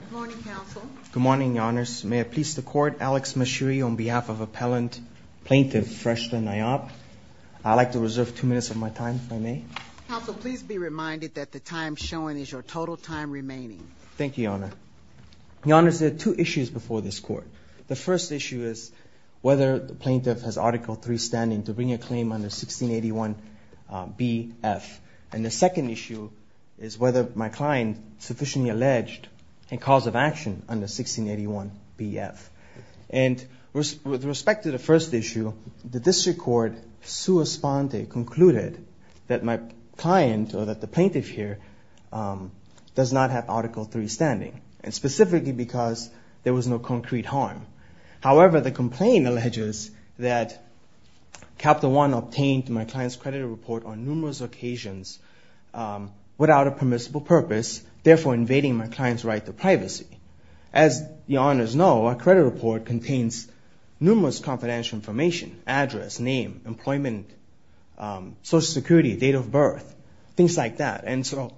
Good morning, Counsel. Good morning, Your Honors. May I please the Court, Alex Mashiri, on behalf of Appellant Plaintiff Freshta Nayab. I'd like to reserve two minutes of my time, if I may. Counsel, please be reminded that the time shown is your total time remaining. Thank you, Your Honor. Your Honors, there are two issues before this Court. The first issue is whether the Plaintiff has Article III standing to bring a claim under 1681BF. And the second issue is whether my client sufficiently alleged a cause of action under 1681BF. And with respect to the first issue, the District Court, sua sponte, concluded that my client, or that the Plaintiff here, does not have Article III standing. And specifically because there was no concrete harm. However, the complaint alleges that Capital One obtained my client's credit report on numerous occasions without a permissible purpose, therefore invading my client's right to privacy. As Your Honors know, a credit report contains numerous confidential information, address, name, employment, Social Security, date of birth, things like that. And so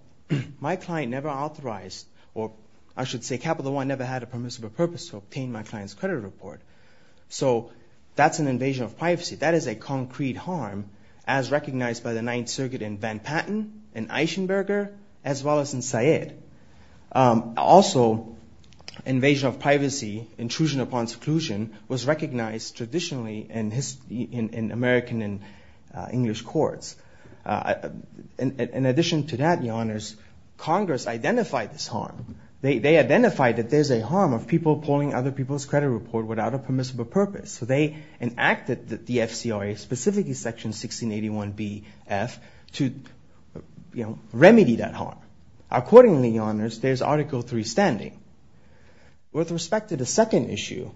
my client never authorized, or I should say Capital One never had a permissible purpose to obtain my client's credit report. So that's an invasion of privacy. That is a concrete harm, as recognized by the Ninth Circuit in Van Patten and Eichenberger, as well as in Syed. Also, invasion of privacy, intrusion upon seclusion, was recognized traditionally in American and English courts. In addition to that, Your Honors, Congress identified this harm. They identified that there's a harm of people pulling other people's credit report without a permissible purpose. So they enacted the FCRA, specifically Section 1681BF, to remedy that harm. Accordingly, Your Honors, there's Article III standing. With respect to the second issue...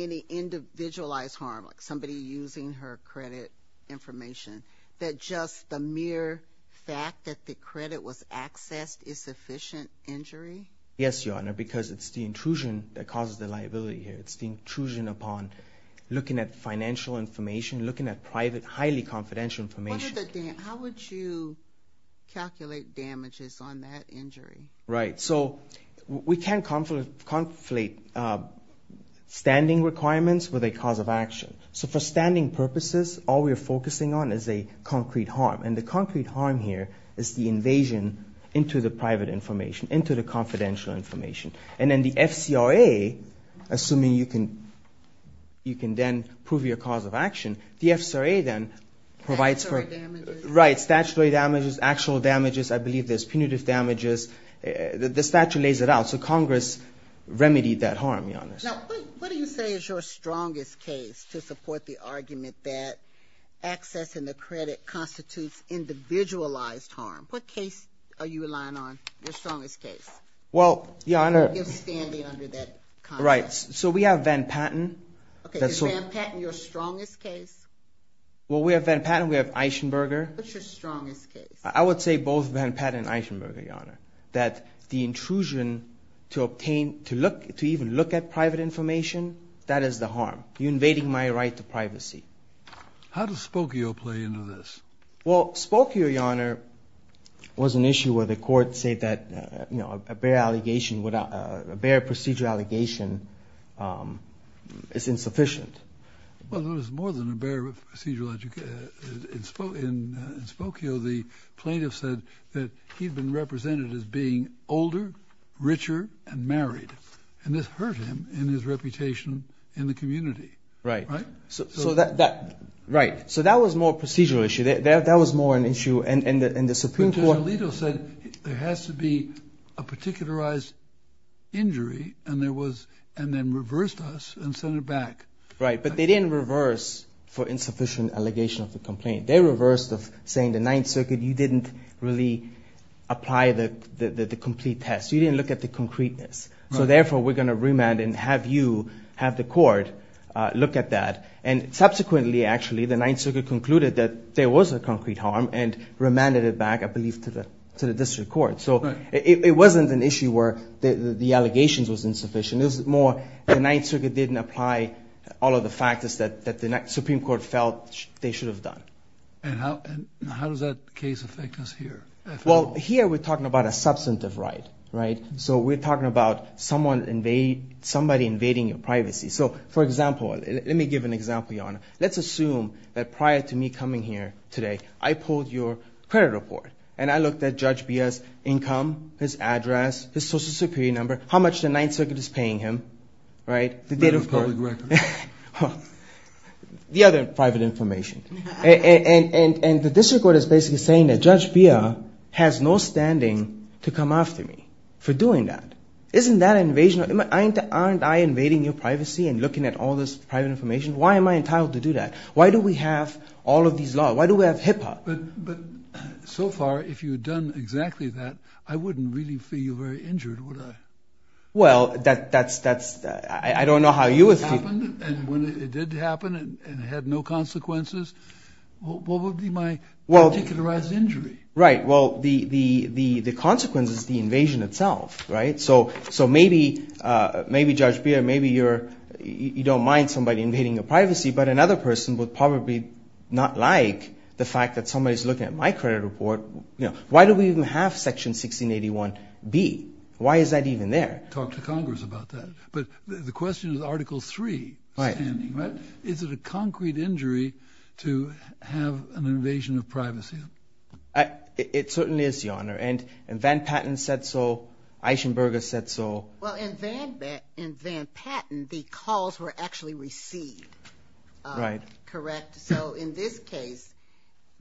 ...individualized harm, like somebody using her credit information, that just the mere fact that the credit was accessed is sufficient injury? Yes, Your Honor, because it's the intrusion that causes the liability here. It's the intrusion upon looking at financial information, looking at private, highly confidential information. How would you calculate damages on that injury? Right. So we can't conflate standing requirements with a cause of action. So for standing purposes, all we're focusing on is a concrete harm, and the concrete harm here is the invasion into the private information, into the confidential information. And then the FCRA, assuming you can then prove your cause of action, the FCRA then provides for... Statutory damages. I believe there's punitive damages. The statute lays it out. So Congress remedied that harm, Your Honors. Now, what do you say is your strongest case to support the argument that accessing the credit constitutes individualized harm? What case are you relying on, your strongest case? Well, Your Honor... You're standing under that context. Right. So we have Van Patten. Is Van Patten your strongest case? Well, we have Van Patten. We have Eichenberger. What's your strongest case? I would say both Van Patten and Eichenberger, Your Honor. That the intrusion to obtain, to even look at private information, that is the harm. You're invading my right to privacy. How does Spokio play into this? Well, Spokio, Your Honor, was an issue where the court said that a bare procedural allegation is insufficient. Well, there was more than a bare procedural allegation. In Spokio, the plaintiff said that he'd been represented as being older, richer, and married. And this hurt him and his reputation in the community. Right. Right? Right. So that was more a procedural issue. That was more an issue in the Supreme Court. There has to be a particularized injury and then reversed us and sent it back. Right. But they didn't reverse for insufficient allegation of the complaint. They reversed of saying the Ninth Circuit, you didn't really apply the complete test. You didn't look at the concreteness. So therefore, we're going to remand and have you, have the court look at that. And subsequently, actually, the Ninth Circuit concluded that there was a concrete harm and remanded it back, I believe, to the district court. Right. So it wasn't an issue where the allegations was insufficient. It was more the Ninth Circuit didn't apply all of the factors that the Supreme Court felt they should have done. And how does that case affect us here? Well, here we're talking about a substantive right, right? So we're talking about somebody invading your privacy. So, for example, let me give an example, Your Honor. Let's assume that prior to me coming here today, I pulled your credit report and I looked at Judge Beah's income, his address, his social security number, how much the Ninth Circuit is paying him, right? The date of public record. The other private information. And the district court is basically saying that Judge Beah has no standing to come after me for doing that. Isn't that an invasion? Aren't I invading your privacy and looking at all this private information? Why am I entitled to do that? Why do we have all of these laws? Why do we have HIPAA? But so far, if you had done exactly that, I wouldn't really feel very injured, would I? Well, that's – I don't know how you would feel. And when it did happen and it had no consequences, what would be my particularized injury? Right. Well, the consequence is the invasion itself, right? So maybe Judge Beah, maybe you don't mind somebody invading your privacy, but another person would probably not like the fact that somebody is looking at my credit report. Why do we even have Section 1681B? Why is that even there? Talk to Congress about that. But the question is Article 3 standing, right? Is it a concrete injury to have an invasion of privacy? It certainly is, Your Honor. And Van Patten said so. Eichenberger said so. Well, in Van Patten, the calls were actually received, correct? So in this case,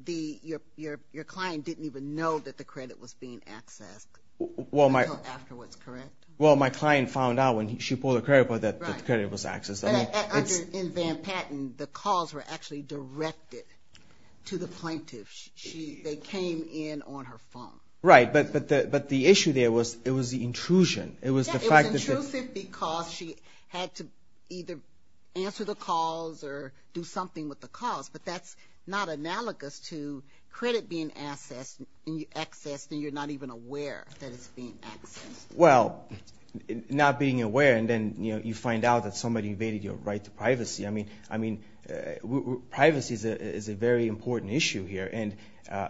your client didn't even know that the credit was being accessed until afterwards, correct? Well, my client found out when she pulled the credit report that the credit was accessed. In Van Patten, the calls were actually directed to the plaintiff. They came in on her phone. Right, but the issue there was the intrusion. It was intrusive because she had to either answer the calls or do something with the calls, but that's not analogous to credit being accessed and you're not even aware that it's being accessed. Well, not being aware and then you find out that somebody invaded your right to privacy. I mean, privacy is a very important issue here, and,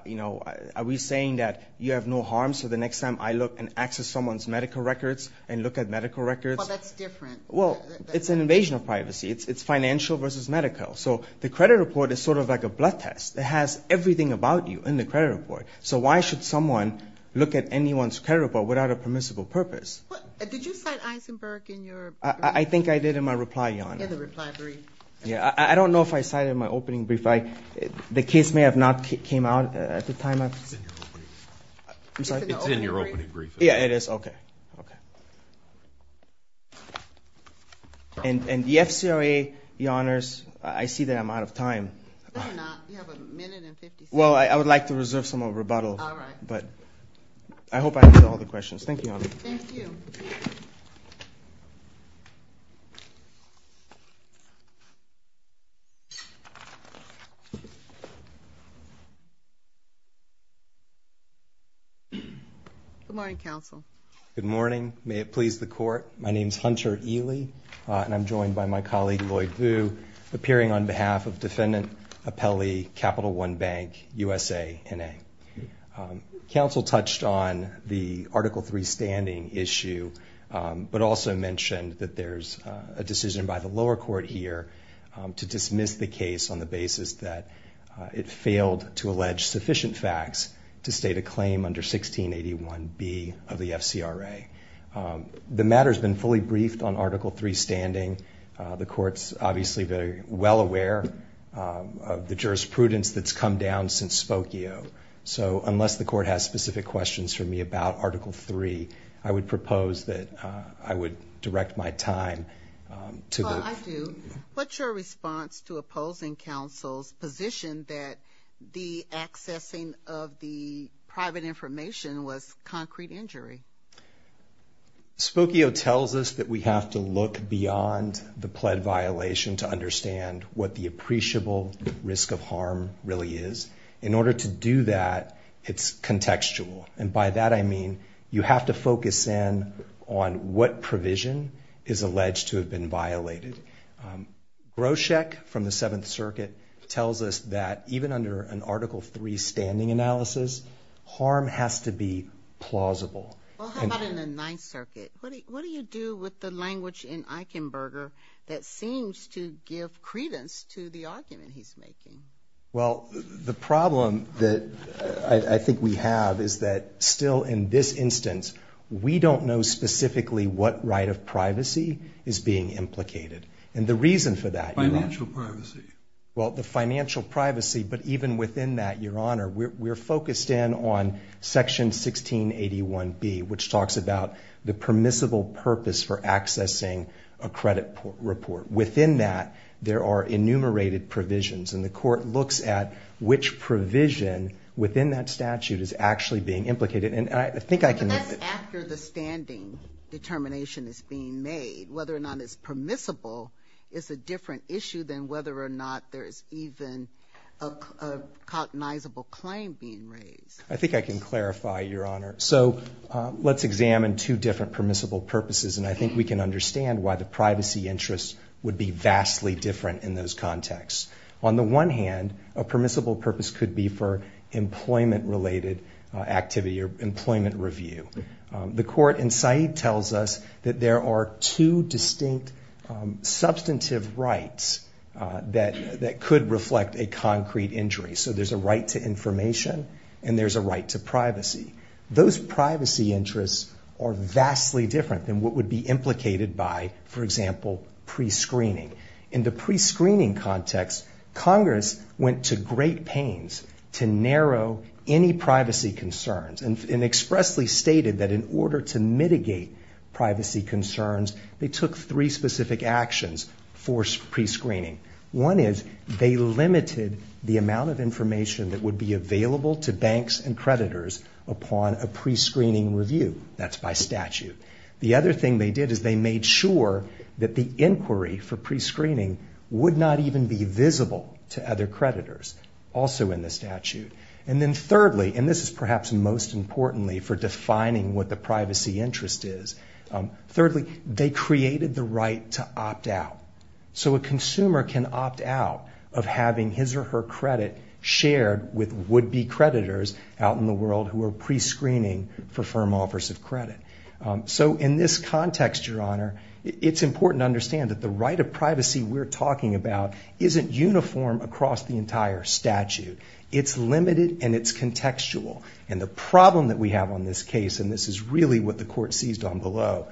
you know, are we saying that you have no harm so the next time I look and access someone's medical records and look at medical records? Well, that's different. Well, it's an invasion of privacy. It's financial versus medical. So the credit report is sort of like a blood test. It has everything about you in the credit report. So why should someone look at anyone's credit report without a permissible purpose? I think I did in my reply, Your Honor. Yeah, the reply brief. Yeah, I don't know if I cited my opening brief. The case may have not came out at the time. It's in your opening brief. I'm sorry? It's in your opening brief. Yeah, it is? Okay, okay. And the FCRA, Your Honors, I see that I'm out of time. No, you're not. You have a minute and 50 seconds. Well, I would like to reserve some more rebuttal. All right. But I hope I answered all the questions. Thank you, Your Honor. Thank you. Thank you. Good morning, Counsel. Good morning. May it please the Court. My name is Hunter Ely, and I'm joined by my colleague, Lloyd Vu, appearing on behalf of Defendant Appelli, Capital One Bank, USANA. Counsel touched on the Article III standing issue, but also mentioned that there's a decision by the lower court here to dismiss the case on the basis that it failed to allege sufficient facts to state a claim under 1681B of the FCRA. The matter's been fully briefed on Article III standing. The Court's obviously very well aware of the jurisprudence that's come down since Spokio. So unless the Court has specific questions for me about Article III, I would propose that I would direct my time to the... Well, I do. What's your response to opposing counsel's position that the accessing of the private information was concrete injury? Spokio tells us that we have to look beyond the pled violation to understand what the appreciable risk of harm really is. In order to do that, it's contextual. And by that I mean you have to focus in on what provision is alleged to have been violated. Groshek, from the Seventh Circuit, tells us that even under an Article III standing analysis, harm has to be plausible. Well, how about in the Ninth Circuit? What do you do with the language in Eichenberger that seems to give credence to the argument he's making? Well, the problem that I think we have is that still in this instance, we don't know specifically what right of privacy is being implicated. And the reason for that... Financial privacy. Well, the financial privacy, but even within that, Your Honor, we're focused in on Section 1681B, which talks about the permissible purpose for accessing a credit report. Within that, there are enumerated provisions, and the Court looks at which provision within that statute is actually being implicated. And I think I can... But that's after the standing determination is being made. Whether or not it's permissible is a different issue than whether or not there is even a cognizable claim being raised. I think I can clarify, Your Honor. So let's examine two different permissible purposes, and I think we can understand why the privacy interests would be vastly different in those contexts. On the one hand, a permissible purpose could be for employment-related activity or employment review. The Court in Said tells us that there are two distinct substantive rights that could reflect a concrete injury. So there's a right to information, and there's a right to privacy. Those privacy interests are vastly different than what would be implicated by, for example, prescreening. In the prescreening context, Congress went to great pains to narrow any privacy concerns and expressly stated that in order to mitigate privacy concerns, they took three specific actions for prescreening. One is they limited the amount of information that would be available to banks and creditors upon a prescreening review. That's by statute. The other thing they did is they made sure that the inquiry for prescreening would not even be visible to other creditors, also in the statute. And then thirdly, and this is perhaps most importantly for defining what the privacy interest is, thirdly, they created the right to opt out. So a consumer can opt out of having his or her credit shared with would-be creditors out in the world who are prescreening for firm offers of credit. So in this context, Your Honor, it's important to understand that the right of privacy we're talking about isn't uniform across the entire statute. It's limited and it's contextual. And the problem that we have on this case, and this is really what the Court seized on below,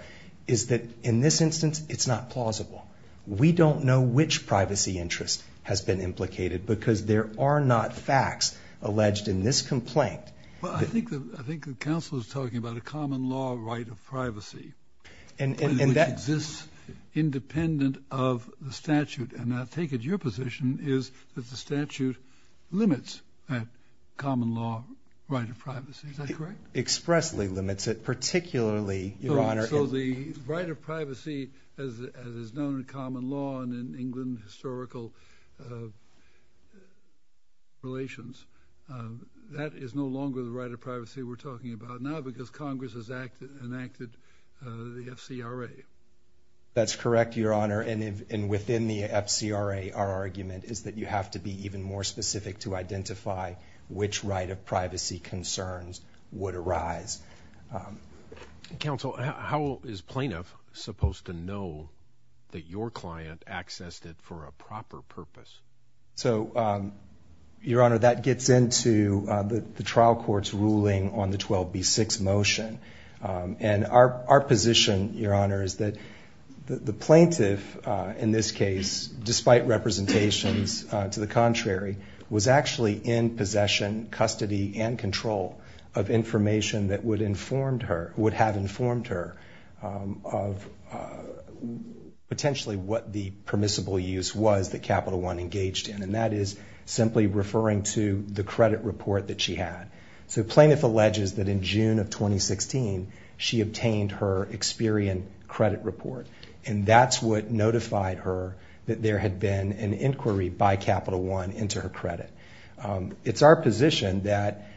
is that in this instance, it's not plausible. We don't know which privacy interest has been implicated because there are not facts alleged in this complaint. Well, I think the counsel is talking about a common law right of privacy which exists independent of the statute. And I take it your position is that the statute limits that common law right of privacy. Is that correct? It expressly limits it, particularly, Your Honor... So the right of privacy, as is known in common law and in England historical relations, that is no longer the right of privacy we're talking about now because Congress has enacted the FCRA. That's correct, Your Honor, and within the FCRA, our argument is that you have to be even more specific to identify which right of privacy concerns would arise. Counsel, how is plaintiff supposed to know that your client accessed it for a proper purpose? So, Your Honor, that gets into the trial court's ruling on the 12b-6 motion. And our position, Your Honor, is that the plaintiff, in this case, despite representations to the contrary, was actually in possession, custody, and control of information that would have informed her of potentially what the permissible use was that Capital One engaged in, and that is simply referring to the credit report that she had. So plaintiff alleges that in June of 2016, she obtained her Experian credit report, and that's what notified her that there had been an inquiry by Capital One into her credit. It's our position that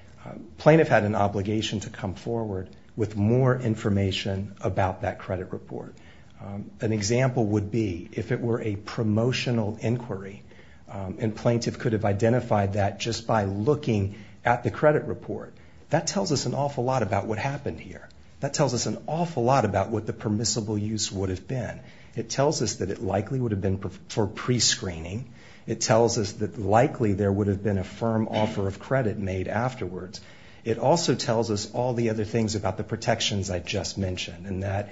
plaintiff had an obligation to come forward with more information about that credit report. An example would be if it were a promotional inquiry, and plaintiff could have identified that just by looking at the credit report. That tells us an awful lot about what happened here. That tells us an awful lot about what the permissible use would have been. It tells us that it likely would have been for prescreening. It tells us that likely there would have been a firm offer of credit made afterwards. It also tells us all the other things about the protections I just mentioned, and that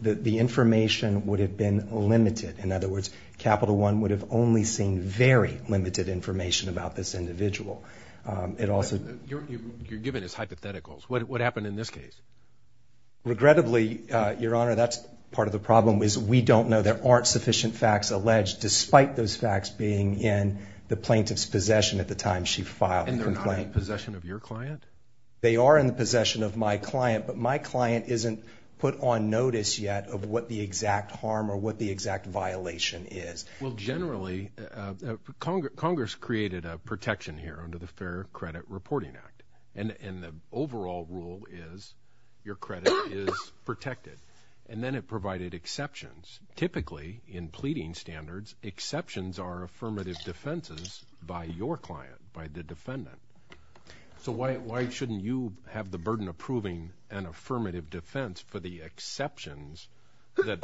the information would have been limited. In other words, Capital One would have only seen very limited information about this individual. You're giving us hypotheticals. What happened in this case? Regrettably, Your Honor, that's part of the problem, is we don't know. There aren't sufficient facts alleged, despite those facts being in the plaintiff's possession at the time she filed the complaint. And they're not in the possession of your client? They are in the possession of my client, but my client isn't put on notice yet of what the exact harm or what the exact violation is. Well, generally, Congress created a protection here under the Fair Credit Reporting Act. And the overall rule is your credit is protected. And then it provided exceptions. Typically, in pleading standards, exceptions are affirmative defenses by your client, by the defendant. So why shouldn't you have the burden of proving an affirmative defense for the exceptions that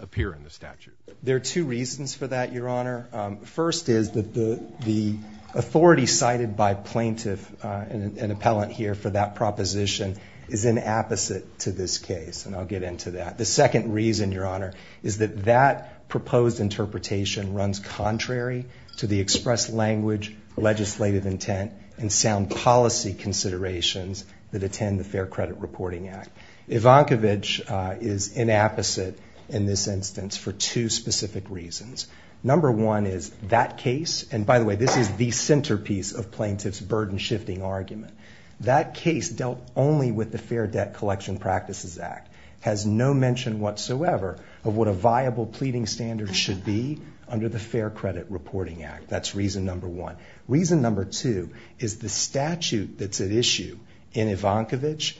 appear in the statute? There are two reasons for that, Your Honor. First is that the authority cited by plaintiff and appellant here for that proposition is an opposite to this case, and I'll get into that. The second reason, Your Honor, is that that proposed interpretation runs contrary to the express language, legislative intent, and sound policy considerations that attend the Fair Credit Reporting Act. Ivankovic is an opposite in this instance for two specific reasons. Number one is that case, and by the way, this is the centerpiece of plaintiff's burden-shifting argument. That case dealt only with the Fair Debt Collection Practices Act, has no mention whatsoever of what a viable pleading standard should be under the Fair Credit Reporting Act. That's reason number one. Reason number two is the statute that's at issue in Ivankovic,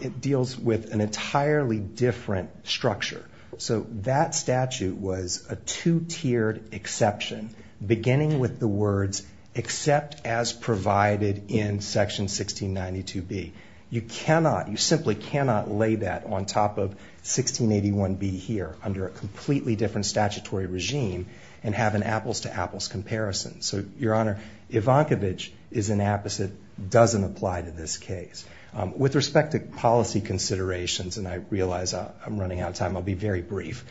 it deals with an entirely different structure. So that statute was a two-tiered exception, beginning with the words except as provided in section 1692B. You simply cannot lay that on top of 1681B here under a completely different statutory regime and have an apples-to-apples comparison. So, Your Honor, Ivankovic is an opposite, doesn't apply to this case. With respect to policy considerations, and I realize I'm running out of time, I'll be very brief,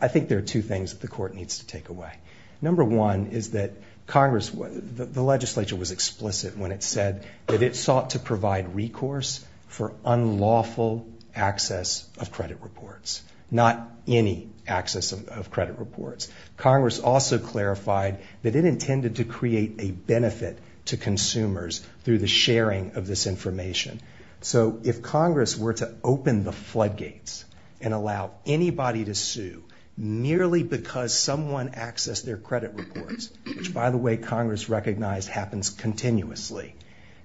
I think there are two things that the Court needs to take away. Number one is that Congress, the legislature was explicit when it said that it sought to provide recourse for unlawful access of credit reports. Not any access of credit reports. Congress also clarified that it intended to create a benefit to consumers through the sharing of this information. So if Congress were to open the floodgates and allow anybody to sue merely because someone accessed their credit reports, which, by the way, Congress recognized happens continuously,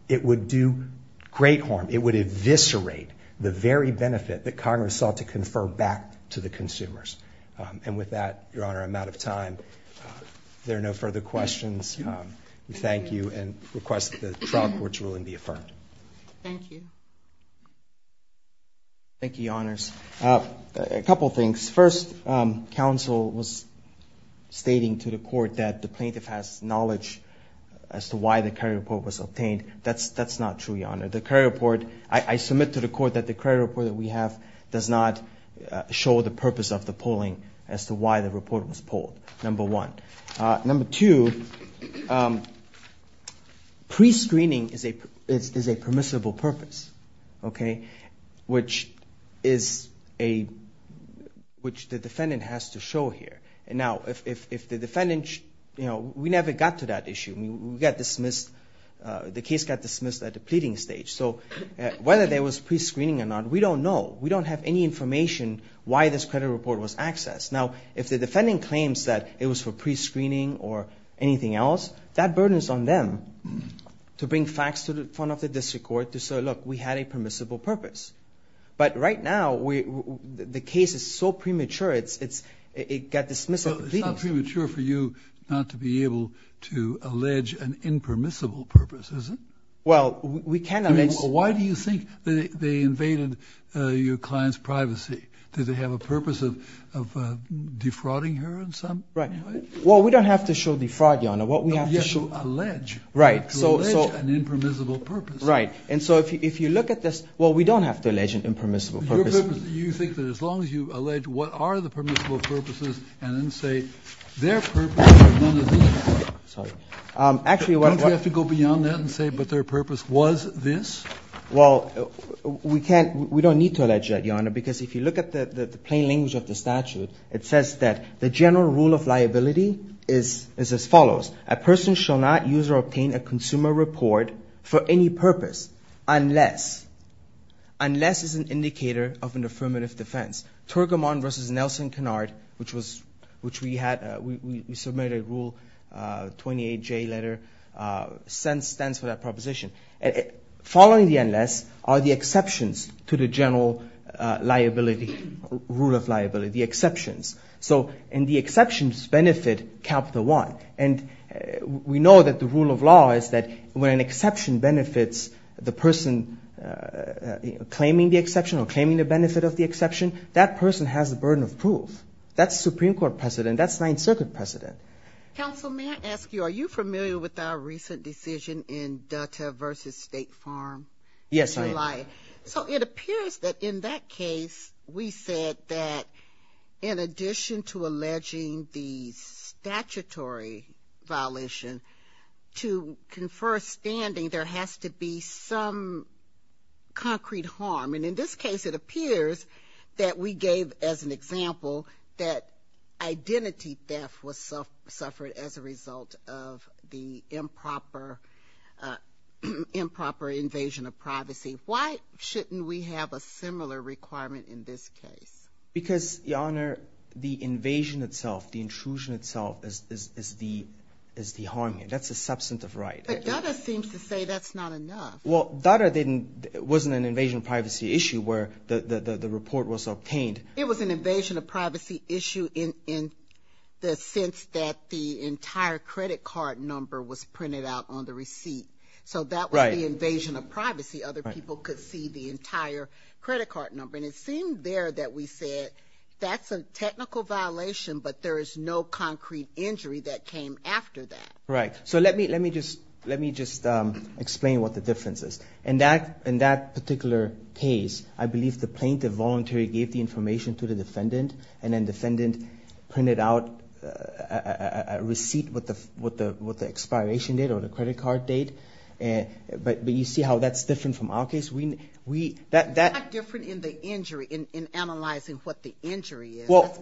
it would do great harm. It would eviscerate the very benefit that Congress sought to confer back to the consumers. And with that, Your Honor, I'm out of time. If there are no further questions, we thank you and request that the trial court's ruling be affirmed. Thank you. Thank you, Your Honors. A couple things. First, counsel was stating to the Court that the plaintiff has knowledge as to why the credit report was obtained. That's not true, Your Honor. The credit report, I submit to the Court that the credit report that we have does not show the purpose of the polling as to why the report was polled, number one. Number two, pre-screening is a permissible purpose, okay, which the defendant has to show here. Now, if the defendant, you know, we never got to that issue. We got dismissed. The case got dismissed at the pleading stage. So whether there was pre-screening or not, we don't know. We don't have any information why this credit report was accessed. Now, if the defendant claims that it was for pre-screening or anything else, that burden is on them to bring facts to the front of the district court to say, look, we had a permissible purpose. But right now, the case is so premature, it got dismissed at the pleading stage. It's not premature for you not to be able to allege an impermissible purpose, is it? Well, we can allege. Why do you think they invaded your client's privacy? Did they have a purpose of defrauding her in some way? Well, we don't have to show defraud, Your Honor. You have to allege an impermissible purpose. Right. And so if you look at this, well, we don't have to allege an impermissible purpose. You think that as long as you allege what are the permissible purposes and then say their purpose is none of this. Sorry. Don't we have to go beyond that and say but their purpose was this? Well, we don't need to allege that, Your Honor, because if you look at the plain language of the statute, it says that the general rule of liability is as follows. A person shall not use or obtain a consumer report for any purpose unless, unless it's an indicator of an affirmative defense. Turgamon versus Nelson-Kennard, which we submitted a Rule 28J letter, stands for that proposition. Following the unless are the exceptions to the general liability, rule of liability, the exceptions. And the exceptions benefit Capital One. And we know that the rule of law is that when an exception benefits the person claiming the exception or claiming the benefit of the exception, that person has the burden of proof. That's Supreme Court precedent. That's Ninth Circuit precedent. Counsel, may I ask you, are you familiar with our recent decision in Dutta versus State Farm? Yes, I am. So it appears that in that case, we said that in addition to alleging the statutory violation, to confer a standing, there has to be some concrete harm. And in this case, it appears that we gave, as an example, that identity theft was suffered as a result of the improper invasion of privacy. Why shouldn't we have a similar requirement in this case? Because, Your Honor, the invasion itself, the intrusion itself is the harm here. That's a substantive right. But Dutta seems to say that's not enough. Well, Dutta wasn't an invasion of privacy issue where the report was obtained. It was an invasion of privacy issue in the sense that the entire credit card number was printed out on the receipt. So that was the invasion of privacy. Other people could see the entire credit card number. And it seemed there that we said that's a technical violation, but there is no concrete injury that came after that. Right. So let me just explain what the difference is. In that particular case, I believe the plaintiff voluntarily gave the information to the defendant, and then defendant printed out a receipt with the expiration date or the credit card date. But you see how that's different from our case? It's not different in the injury, in analyzing what the injury is. Well,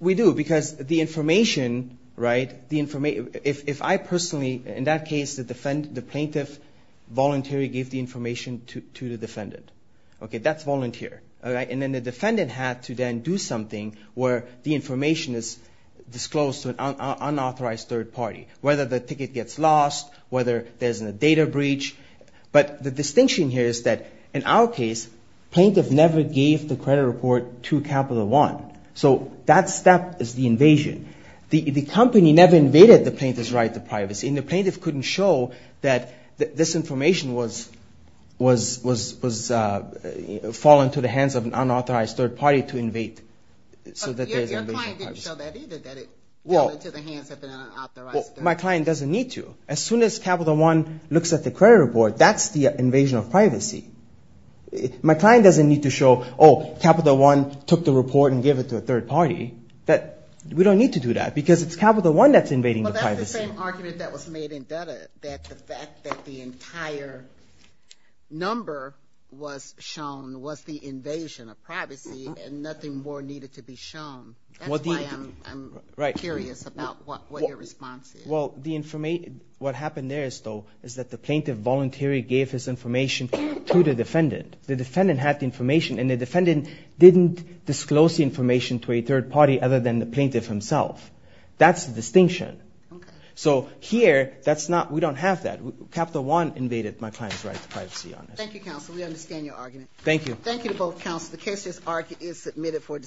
we do because the information, right, if I personally, in that case, the plaintiff voluntarily gave the information to the defendant. Okay, that's volunteer. And then the defendant had to then do something where the information is disclosed to an unauthorized third party, whether the ticket gets lost, whether there's a data breach. But the distinction here is that in our case, plaintiff never gave the credit report to Capital One. So that step is the invasion. The company never invaded the plaintiff's right to privacy, and the plaintiff couldn't show that this information was fallen to the hands of an unauthorized third party to invade. Your client didn't show that either, that it fell into the hands of an unauthorized third party. Well, my client doesn't need to. As soon as Capital One looks at the credit report, that's the invasion of privacy. My client doesn't need to show, oh, Capital One took the report and gave it to a third party. We don't need to do that because it's Capital One that's invading the privacy. Well, that's the same argument that was made in Dutta, that the fact that the entire number was shown was the invasion of privacy and nothing more needed to be shown. That's why I'm curious about what your response is. Well, what happened there is that the plaintiff voluntarily gave his information to the defendant. The defendant had the information, and the defendant didn't disclose the information to a third party other than the plaintiff himself. That's the distinction. So here, we don't have that. Capital One invaded my client's right to privacy. Thank you, counsel. We understand your argument. Thank you. Thank you to both counsels. The case is submitted for discussion.